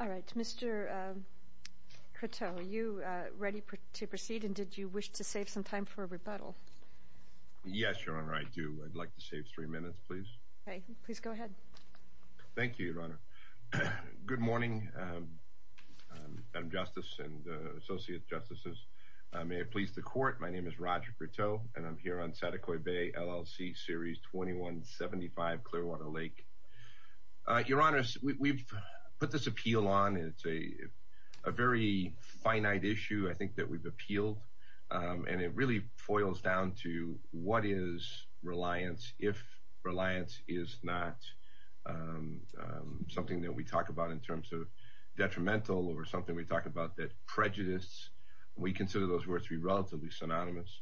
All right, Mr. Croteau, are you ready to proceed, and did you wish to save some time for a rebuttal? Yes, Your Honor, I do. I'd like to save three minutes, please. Okay. Please go ahead. Thank you, Your Honor. Good morning, Madam Justice and Associate Justices. May it please the Court, my name is Roger Croteau, and I'm here on Saticoy Bay LLC Series 2175 Clearwater Lake. Your Honor, we've put this appeal on, and it's a very finite issue, I think, that we've appealed. And it really foils down to what is reliance, if reliance is not something that we talk about in terms of detrimental or something we talk about that prejudice, we consider those words to be relatively synonymous.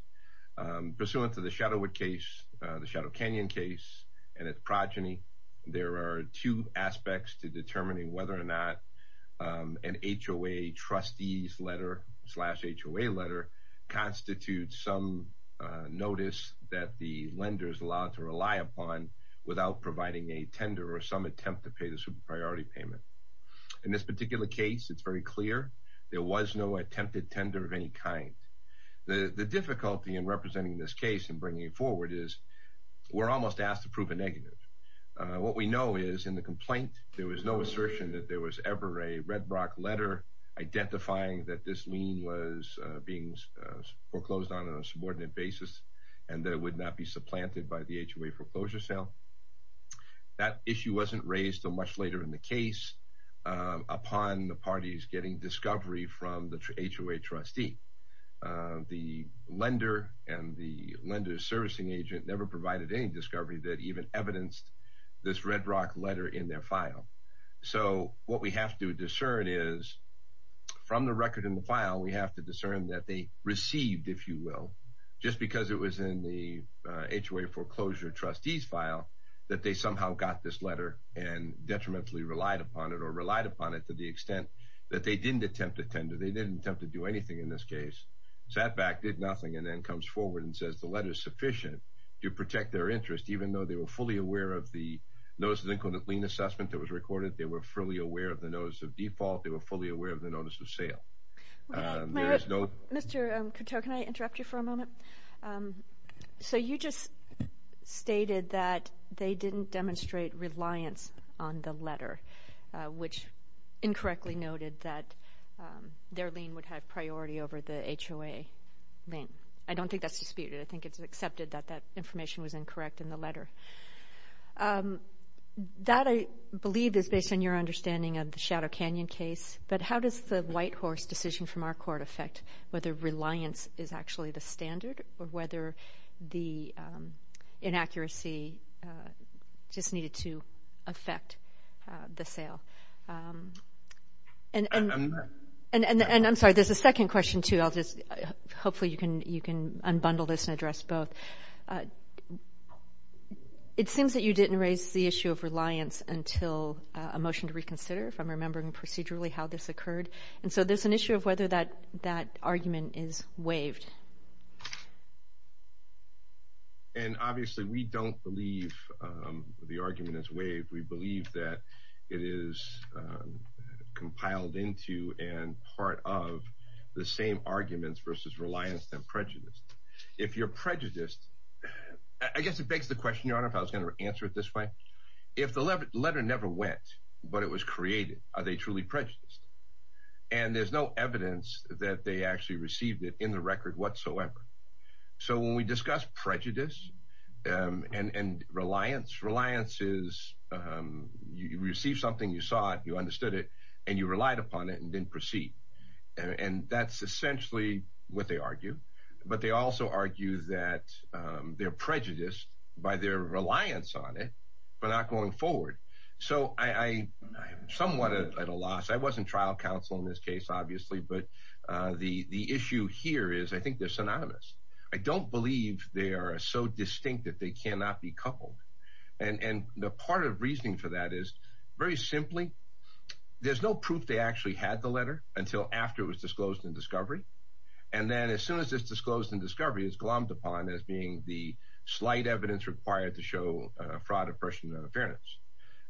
Pursuant to the Shadowwood case, the Shadow Canyon case, and its progeny, there are two aspects to determining whether or not an HOA trustee's letter slash HOA letter constitutes some notice that the lender is allowed to rely upon without providing a tender or some attempt to pay the super priority payment. In this particular case, it's very clear there was no attempted tender of any kind. The difficulty in representing this case and bringing it forward is we're almost asked to prove a negative. What we know is in the complaint, there was no assertion that there was ever a Red Rock letter identifying that this lien was being foreclosed on on a subordinate basis and that it would not be supplanted by the HOA foreclosure sale. That issue wasn't raised until much later in the case upon the parties getting discovery from the HOA trustee. The lender and the lender's servicing agent never provided any discovery that even evidenced this Red Rock letter in their file. So what we have to discern is from the record in the file, we have to discern that they received, if you will, just because it was in the HOA foreclosure trustee's file, that they somehow got this letter and detrimentally relied upon it or relied upon it to the extent that they didn't attempt a tender. They didn't attempt to do anything in this case. Sat back, did nothing, and then comes forward and says the letter is sufficient to protect their interest, even though they were fully aware of the Notice of Included Lien Assessment that was recorded. They were fully aware of the Notice of Default. They were fully aware of the Notice of Sale. Mr. Coteau, can I interrupt you for a moment? So you just stated that they didn't demonstrate reliance on the letter, which incorrectly noted that their lien would have priority over the HOA lien. I don't think that's disputed. I think it's accepted that that information was incorrect in the letter. That, I believe, is based on your understanding of the Shadow Canyon case, but how does the Whitehorse decision from our court affect whether reliance is actually the standard or whether the inaccuracy just needed to affect the sale? And I'm sorry, there's a second question, too. Hopefully you can unbundle this and address both. It seems that you didn't raise the issue of reliance until a motion to reconsider, if I'm remembering procedurally how this occurred. And so there's an issue of whether that argument is waived. And obviously we don't believe the argument is waived. We believe that it is compiled into and part of the same arguments versus reliance and prejudice. If you're prejudiced, I guess it begs the question, Your Honor, if I was going to answer it this way, if the letter never went but it was created, are they truly prejudiced? And there's no evidence that they actually received it in the record whatsoever. So when we discuss prejudice and reliance, reliance is you received something, you saw it, you understood it, and you relied upon it and didn't proceed. And that's essentially what they argue. But they also argue that they're prejudiced by their reliance on it but not going forward. So I am somewhat at a loss. I wasn't trial counsel in this case, obviously, but the issue here is I think they're synonymous. I don't believe they are so distinct that they cannot be coupled. And the part of reasoning for that is very simply there's no proof they actually had the letter until after it was disclosed in discovery. And then as soon as it's disclosed in discovery, it's glommed upon as being the slight evidence required to show fraud, oppression, and non-affairness.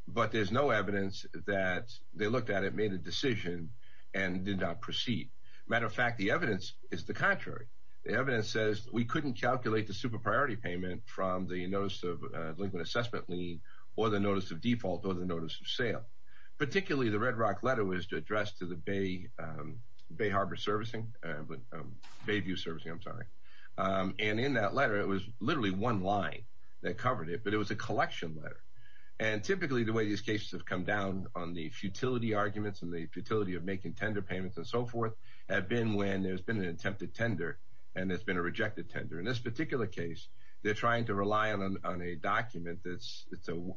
But there's no evidence that they looked at it, made a decision, and did not proceed. Matter of fact, the evidence is the contrary. The evidence says we couldn't calculate the super priority payment from the notice of delinquent assessment lien or the notice of default or the notice of sale. Particularly, the Red Rock letter was addressed to the Bay Harbor Servicing, Bayview Servicing, I'm sorry. And in that letter, it was literally one line that covered it, but it was a collection letter. And typically, the way these cases have come down on the futility arguments and the futility of making tender payments and so forth have been when there's been an attempted tender and there's been a rejected tender. In this particular case, they're trying to rely on a document that's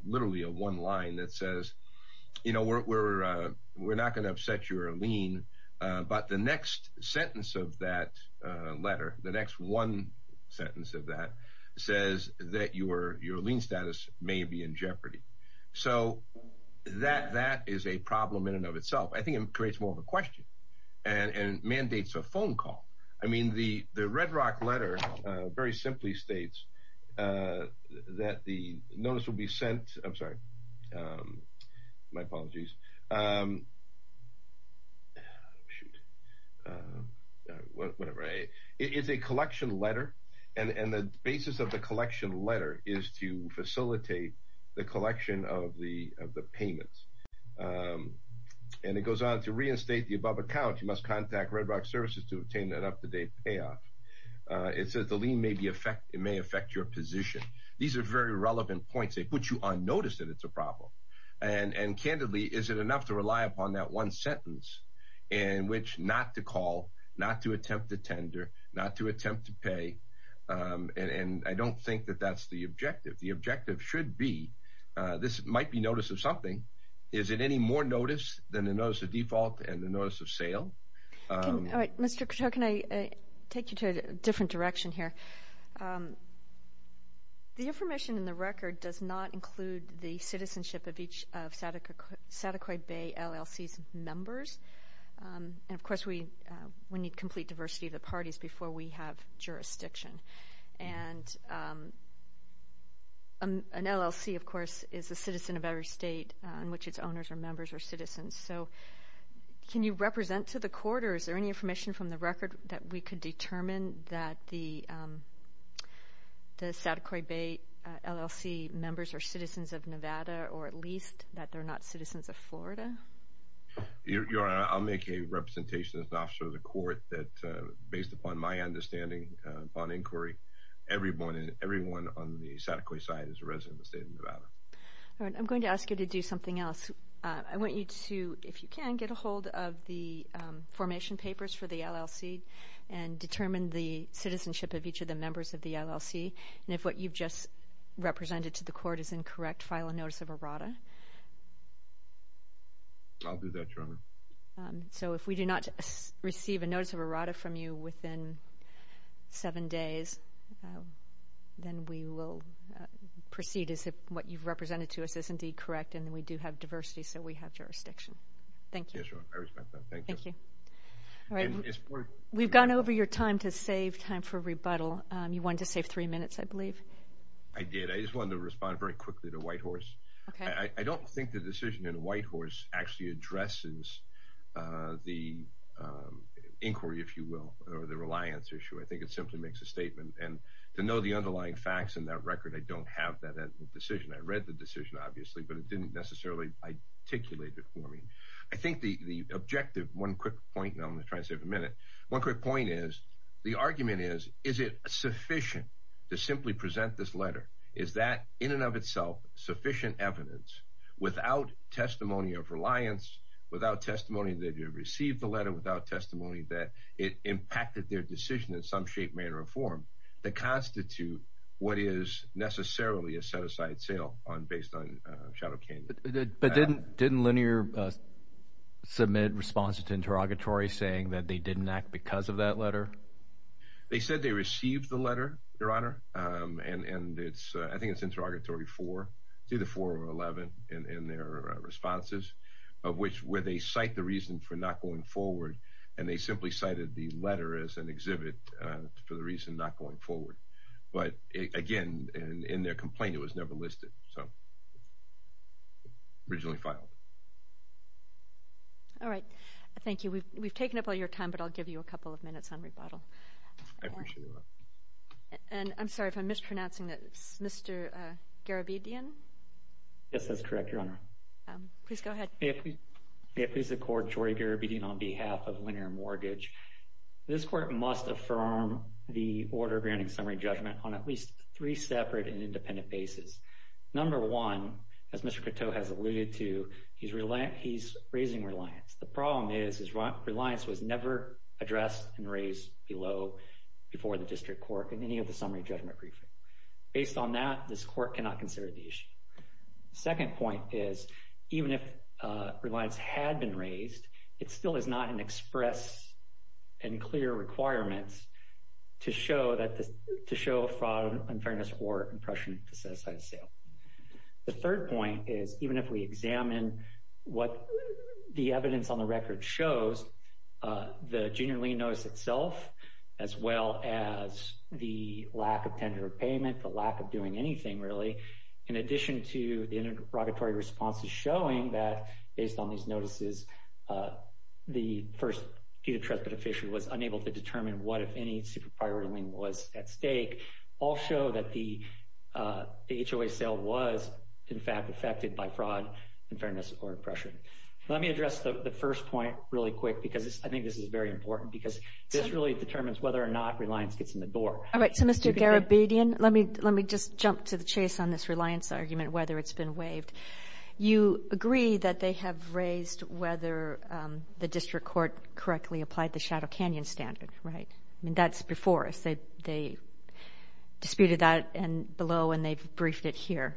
literally a one line that says we're not going to upset your lien, but the next sentence of that letter, the next one sentence of that, says that your lien status may be in jeopardy. So that is a problem in and of itself. I think it creates more of a question and mandates a phone call. I mean, the Red Rock letter very simply states that the notice will be sent. I'm sorry. My apologies. It's a collection letter, and the basis of the collection letter is to facilitate the collection of the payments. And it goes on to reinstate the above account. You must contact Red Rock Services to obtain that up-to-date payoff. It says the lien may affect your position. These are very relevant points. They put you on notice that it's a problem. And candidly, is it enough to rely upon that one sentence in which not to call, not to attempt a tender, not to attempt to pay, and I don't think that that's the objective. The objective should be this might be notice of something. Is it any more notice than the notice of default and the notice of sale? All right, Mr. Cato, can I take you to a different direction here? The information in the record does not include the citizenship of each of Sataquai Bay LLC's members. And, of course, we need complete diversity of the parties before we have jurisdiction. And an LLC, of course, is a citizen of every state in which its owners are members or citizens. So can you represent to the court or is there any information from the record that we could determine that the Sataquai Bay LLC members are citizens of Nevada or at least that they're not citizens of Florida? Your Honor, I'll make a representation as an officer of the court that, based upon my understanding, upon inquiry, everyone on the Sataquai side is a resident of the state of Nevada. All right, I'm going to ask you to do something else. I want you to, if you can, get a hold of the formation papers for the LLC and determine the citizenship of each of the members of the LLC. And if what you've just represented to the court is incorrect, file a notice of errata. I'll do that, Your Honor. So if we do not receive a notice of errata from you within seven days, then we will proceed as if what you've represented to us is indeed correct, and we do have diversity, so we have jurisdiction. Thank you. Yes, Your Honor, I respect that. Thank you. Thank you. All right, we've gone over your time to save time for rebuttal. You wanted to save three minutes, I believe. I did. I just wanted to respond very quickly to Whitehorse. Okay. I don't think the decision in Whitehorse actually addresses the inquiry, if you will, or the reliance issue. I think it simply makes a statement. And to know the underlying facts in that record, I don't have that decision. I read the decision, obviously, but it didn't necessarily articulate it for me. I think the objective, one quick point, and I'm going to try to save a minute, one quick point is the argument is, is it sufficient to simply present this letter? Is that, in and of itself, sufficient evidence without testimony of reliance, without testimony that you received the letter, without testimony that it impacted their decision in some shape, manner, or form that constitute what is necessarily a set-aside sale based on Shadow Canyon? But didn't Linear submit responses to interrogatories saying that they didn't act because of that letter? They said they received the letter, Your Honor, and I think it's interrogatory four, either four or 11 in their responses, of which where they cite the reason for not going forward, and they simply cited the letter as an exhibit for the reason not going forward. But, again, in their complaint, it was never listed, so originally filed. All right. Thank you. We've taken up all your time, but I'll give you a couple of minutes on rebuttal. I appreciate it, Your Honor. And I'm sorry if I'm mispronouncing this, Mr. Garabedian? Yes, that's correct, Your Honor. Please go ahead. May it please the Court, Jory Garabedian, on behalf of Linear Mortgage. This Court must affirm the order granting summary judgment on at least three separate and independent bases. Number one, as Mr. Coteau has alluded to, he's raising reliance. The problem is reliance was never addressed and raised below before the district court in any of the summary judgment briefings. Based on that, this court cannot consider the issue. The second point is even if reliance had been raised, it still is not an express and clear requirement to show fraud, unfairness, or oppression to set aside a sale. The third point is even if we examine what the evidence on the record shows, the junior lien notice itself, as well as the lack of tender or payment, the lack of doing anything really, in addition to the interrogatory responses showing that, based on these notices, the first due to trust beneficiary was unable to determine what, if any, super priority lien was at stake, all show that the HOA sale was, in fact, affected by fraud, unfairness, or oppression. Let me address the first point really quick because I think this is very important because this really determines whether or not reliance gets in the door. All right. So, Mr. Garabedian, let me just jump to the chase on this reliance argument, whether it's been waived. You agree that they have raised whether the district court correctly applied the Shadow Canyon standard, right? I mean, that's before us. They disputed that below and they've briefed it here.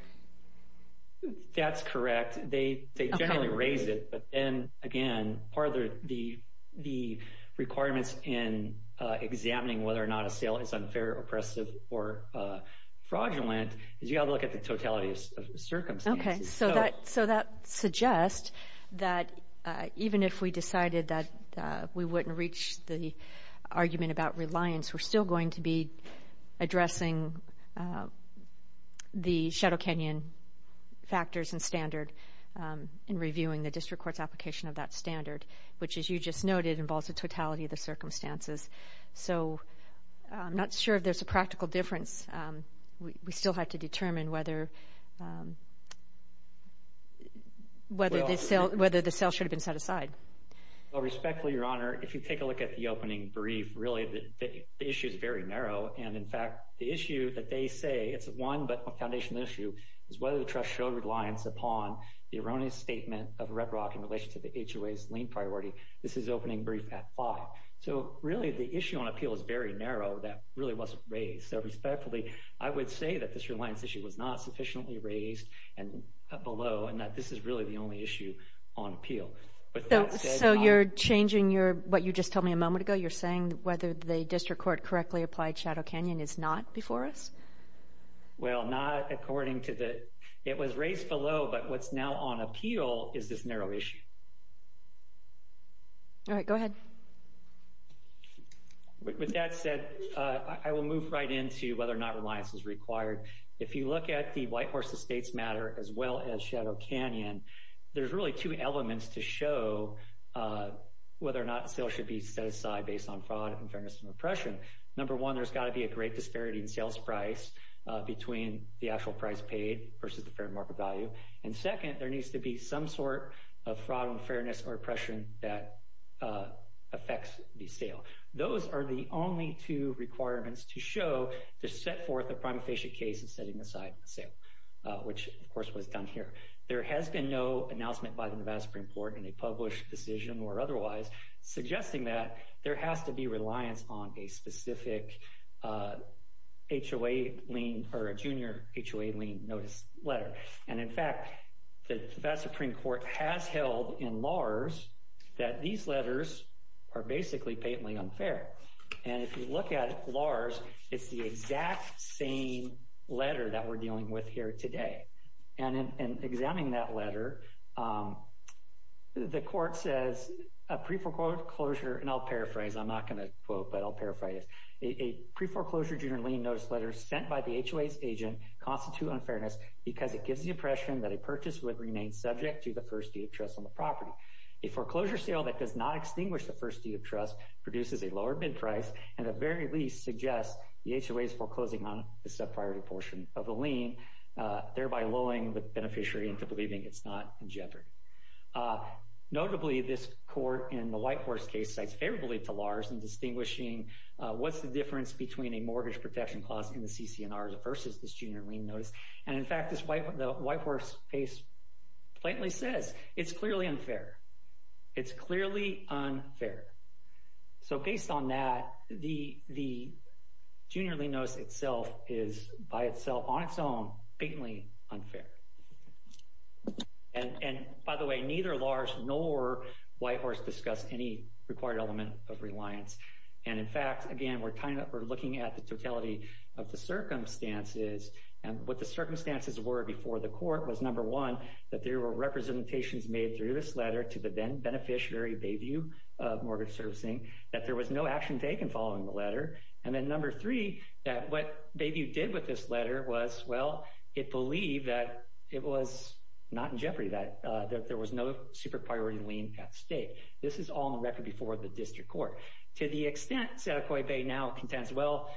That's correct. In fact, they generally raise it, but then, again, part of the requirements in examining whether or not a sale is unfair, oppressive, or fraudulent is you have to look at the totality of circumstances. Okay. So that suggests that even if we decided that we wouldn't reach the argument about reliance, we're still going to be addressing the Shadow Canyon factors and standard in reviewing the district court's application of that standard, which, as you just noted, involves the totality of the circumstances. So I'm not sure if there's a practical difference. We still have to determine whether the sale should have been set aside. Well, respectfully, Your Honor, if you take a look at the opening brief, really, the issue is very narrow. And, in fact, the issue that they say, it's one but a foundational issue, is whether the trust showed reliance upon the erroneous statement of Red Rock in relation to the HOA's lien priority. This is opening brief at five. So, really, the issue on appeal is very narrow. That really wasn't raised. So, respectfully, I would say that this reliance issue was not sufficiently raised below and that this is really the only issue on appeal. So you're changing what you just told me a moment ago? You're saying whether the district court correctly applied Shadow Canyon is not before us? Well, not according to the – it was raised below, but what's now on appeal is this narrow issue. All right, go ahead. With that said, I will move right into whether or not reliance is required. If you look at the Whitehorse Estates matter as well as Shadow Canyon, there's really two elements to show whether or not a sale should be set aside based on fraud, unfairness, and oppression. Number one, there's got to be a great disparity in sales price between the actual price paid versus the fair market value. And, second, there needs to be some sort of fraud, unfairness, or oppression that affects the sale. Those are the only two requirements to show to set forth a prima facie case of setting aside a sale, which, of course, was done here. There has been no announcement by the Nevada Supreme Court in a published decision or otherwise suggesting that there has to be reliance on a specific HOA lien or a junior HOA lien notice letter. And, in fact, the Nevada Supreme Court has held in LARS that these letters are basically patently unfair. And if you look at LARS, it's the exact same letter that we're dealing with here today. And in examining that letter, the court says a pre-foreclosure – and I'll paraphrase. I'm not going to quote, but I'll paraphrase. A pre-foreclosure junior lien notice letter sent by the HOA's agent constitutes unfairness because it gives the impression that a purchase would remain subject to the first deed of trust on the property. A foreclosure sale that does not extinguish the first deed of trust produces a lower bid price and, at the very least, suggests the HOA's foreclosing on the sub-priority portion of the lien, thereby lulling the beneficiary into believing it's not in jeopardy. Notably, this court in the Whitehorse case cites favorably to LARS in distinguishing what's the difference between a mortgage protection clause in the CCNR versus this junior lien notice. And, in fact, the Whitehorse case blatantly says it's clearly unfair. It's clearly unfair. So, based on that, the junior lien notice itself is, by itself, on its own, blatantly unfair. And, by the way, neither LARS nor Whitehorse discuss any required element of reliance. And, in fact, again, we're looking at the totality of the circumstances. And what the circumstances were before the court was, number one, that there were representations made through this letter to the beneficiary, Bayview Mortgage Servicing, and, then, number three, that what Bayview did with this letter was, well, it believed that it was not in jeopardy, that there was no super-priority lien at stake. This is all on the record before the district court. To the extent Sadaquah Bay now contends, well,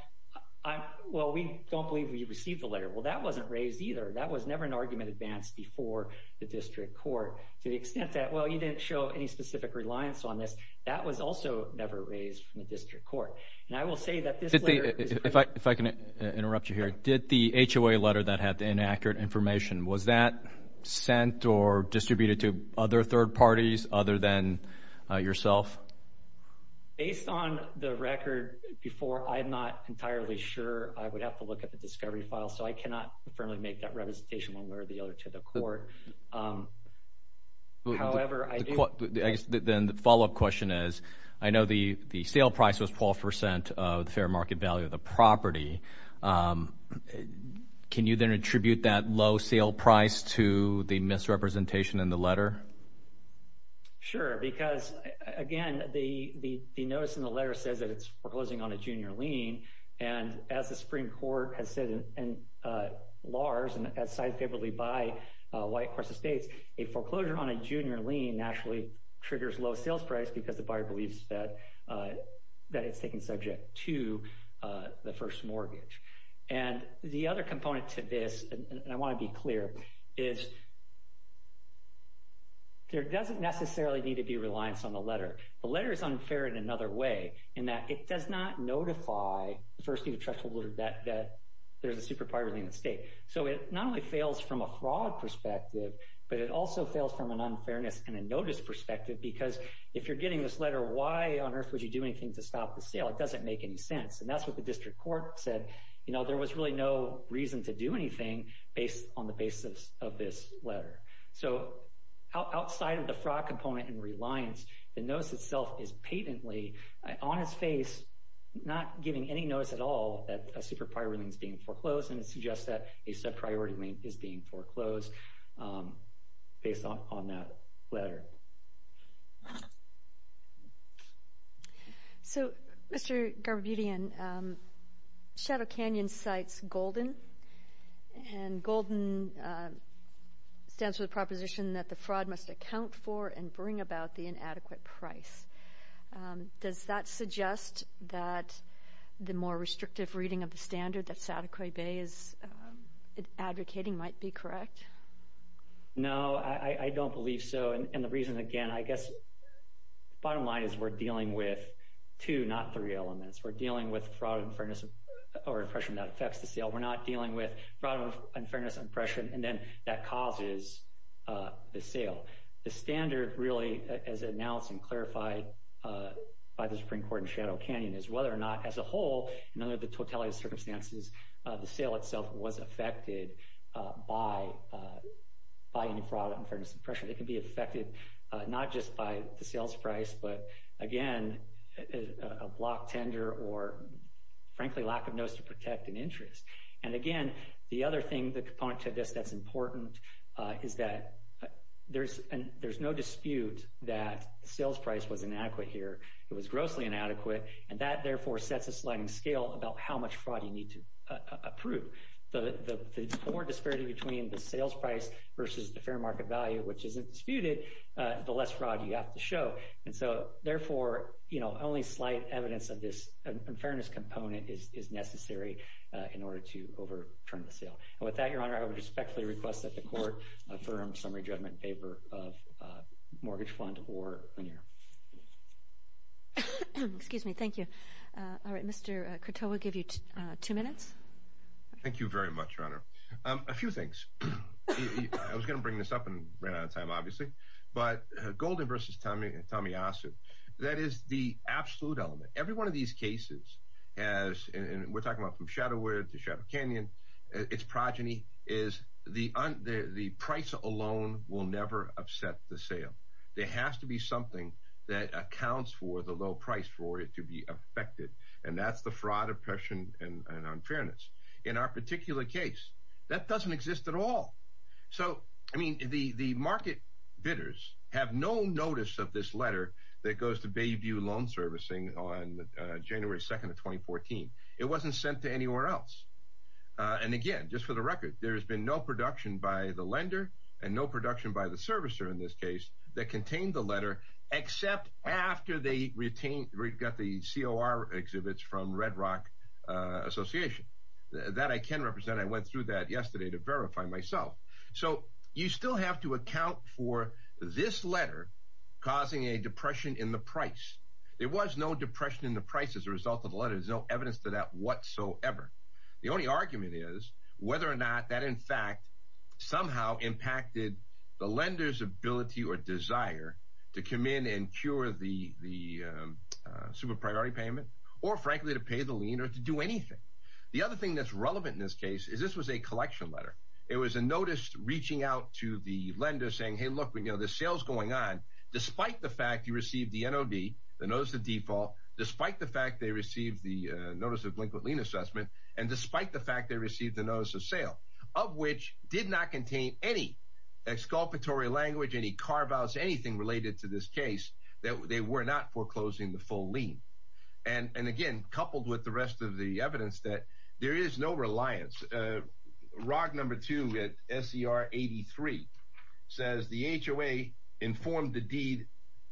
we don't believe we received the letter. Well, that wasn't raised either. That was never an argument advanced before the district court to the extent that, well, you didn't show any specific reliance on this. That was also never raised from the district court. And I will say that this letter is proof. If I can interrupt you here, did the HOA letter that had the inaccurate information, was that sent or distributed to other third parties other than yourself? Based on the record before, I'm not entirely sure. I would have to look at the discovery file, so I cannot firmly make that representation one way or the other to the court. However, I do. The follow-up question is, I know the sale price was 12% of the fair market value of the property. Can you then attribute that low sale price to the misrepresentation in the letter? Sure, because, again, the notice in the letter says that it's foreclosing on a junior lien, and as the Supreme Court has said in LARS and as cited favorably by White Cross Estates, a foreclosure on a junior lien naturally triggers low sales price because the buyer believes that it's taken subject to the first mortgage. And the other component to this, and I want to be clear, is there doesn't necessarily need to be reliance on the letter. The letter is unfair in another way, in that it does not notify the first deed of trust holder that there's a superpower lien at stake. So it not only fails from a fraud perspective, but it also fails from an unfairness and a notice perspective, because if you're getting this letter, why on earth would you do anything to stop the sale? It doesn't make any sense. And that's what the district court said. You know, there was really no reason to do anything on the basis of this letter. So outside of the fraud component and reliance, the notice itself is patently on its face, not giving any notice at all that a superpower lien is being foreclosed, and it suggests that a sub-priority lien is being foreclosed based on that letter. So, Mr. Garbutian, Shadow Canyon cites GOLDEN, and GOLDEN stands for the proposition that the fraud must account for and bring about the inadequate price. Does that suggest that the more restrictive reading of the standard that Sataquai Bay is advocating might be correct? No, I don't believe so. And the reason, again, I guess the bottom line is we're dealing with two, not three elements. We're dealing with fraud and unfairness or impression that affects the sale. We're not dealing with fraud and unfairness and impression, and then that causes the sale. The standard really, as announced and clarified by the Supreme Court in Shadow Canyon, is whether or not, as a whole, under the totality of circumstances, the sale itself was affected by any fraud, unfairness, and impression. It can be affected not just by the sales price, but, again, a block tender or, frankly, lack of notice to protect an interest. And, again, the other thing, the component to this that's important is that there's no dispute that sales price was inadequate here. It was grossly inadequate, and that, therefore, sets a sliding scale about how much fraud you need to approve. The more disparity between the sales price versus the fair market value, which isn't disputed, the less fraud you have to show. And so, therefore, only slight evidence of this unfairness component is necessary in order to overturn the sale. And with that, Your Honor, I would respectfully request that the court affirm summary judgment in favor of mortgage fund or linear. Excuse me. Thank you. All right. Mr. Croteau, we'll give you two minutes. Thank you very much, Your Honor. A few things. I was going to bring this up and ran out of time, obviously. But Golden versus Tommy Ossoff. That is the absolute element. Every one of these cases has, and we're talking about from Shadowhere to Chapel Canyon, its progeny is the price alone will never upset the sale. There has to be something that accounts for the low price for it to be affected, and that's the fraud, oppression, and unfairness. In our particular case, that doesn't exist at all. So, I mean, the market bidders have no notice of this letter that goes to Bayview Loan Servicing on January 2nd of 2014. It wasn't sent to anywhere else. And, again, just for the record, there has been no production by the lender and no production by the servicer in this case that contained the letter, except after they got the COR exhibits from Red Rock Association. That I can represent. I went through that yesterday to verify myself. So, you still have to account for this letter causing a depression in the price. There was no depression in the price as a result of the letter. There's no evidence to that whatsoever. The only argument is whether or not that, in fact, somehow impacted the lender's ability or desire to come in and cure the super priority payment or, frankly, to pay the lien or to do anything. The other thing that's relevant in this case is this was a collection letter. It was a notice reaching out to the lender saying, hey, look, there's sales going on, despite the fact you received the NOD, the Notice of Default, despite the fact they received the Notice of Blinkant Lien Assessment, and despite the fact they received the Notice of Sale, of which did not contain any exculpatory language, any carve-outs, anything related to this case. They were not foreclosing the full lien. And, again, coupled with the rest of the evidence that there is no reliance. ROG number 2 at SCR 83 says the HOA informed the deed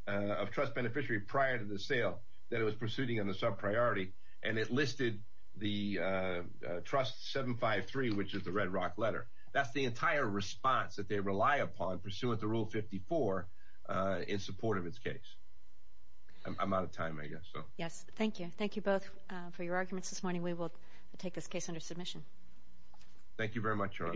of trust beneficiary prior to the sale that it was pursuing on the sub-priority, and it listed the trust 753, which is the Red Rock letter. That's the entire response that they rely upon pursuant to Rule 54 in support of its case. I'm out of time, I guess. Yes, thank you. Thank you both for your arguments this morning. We will take this case under submission. Thank you very much, Your Honor. Thank you, Your Honor.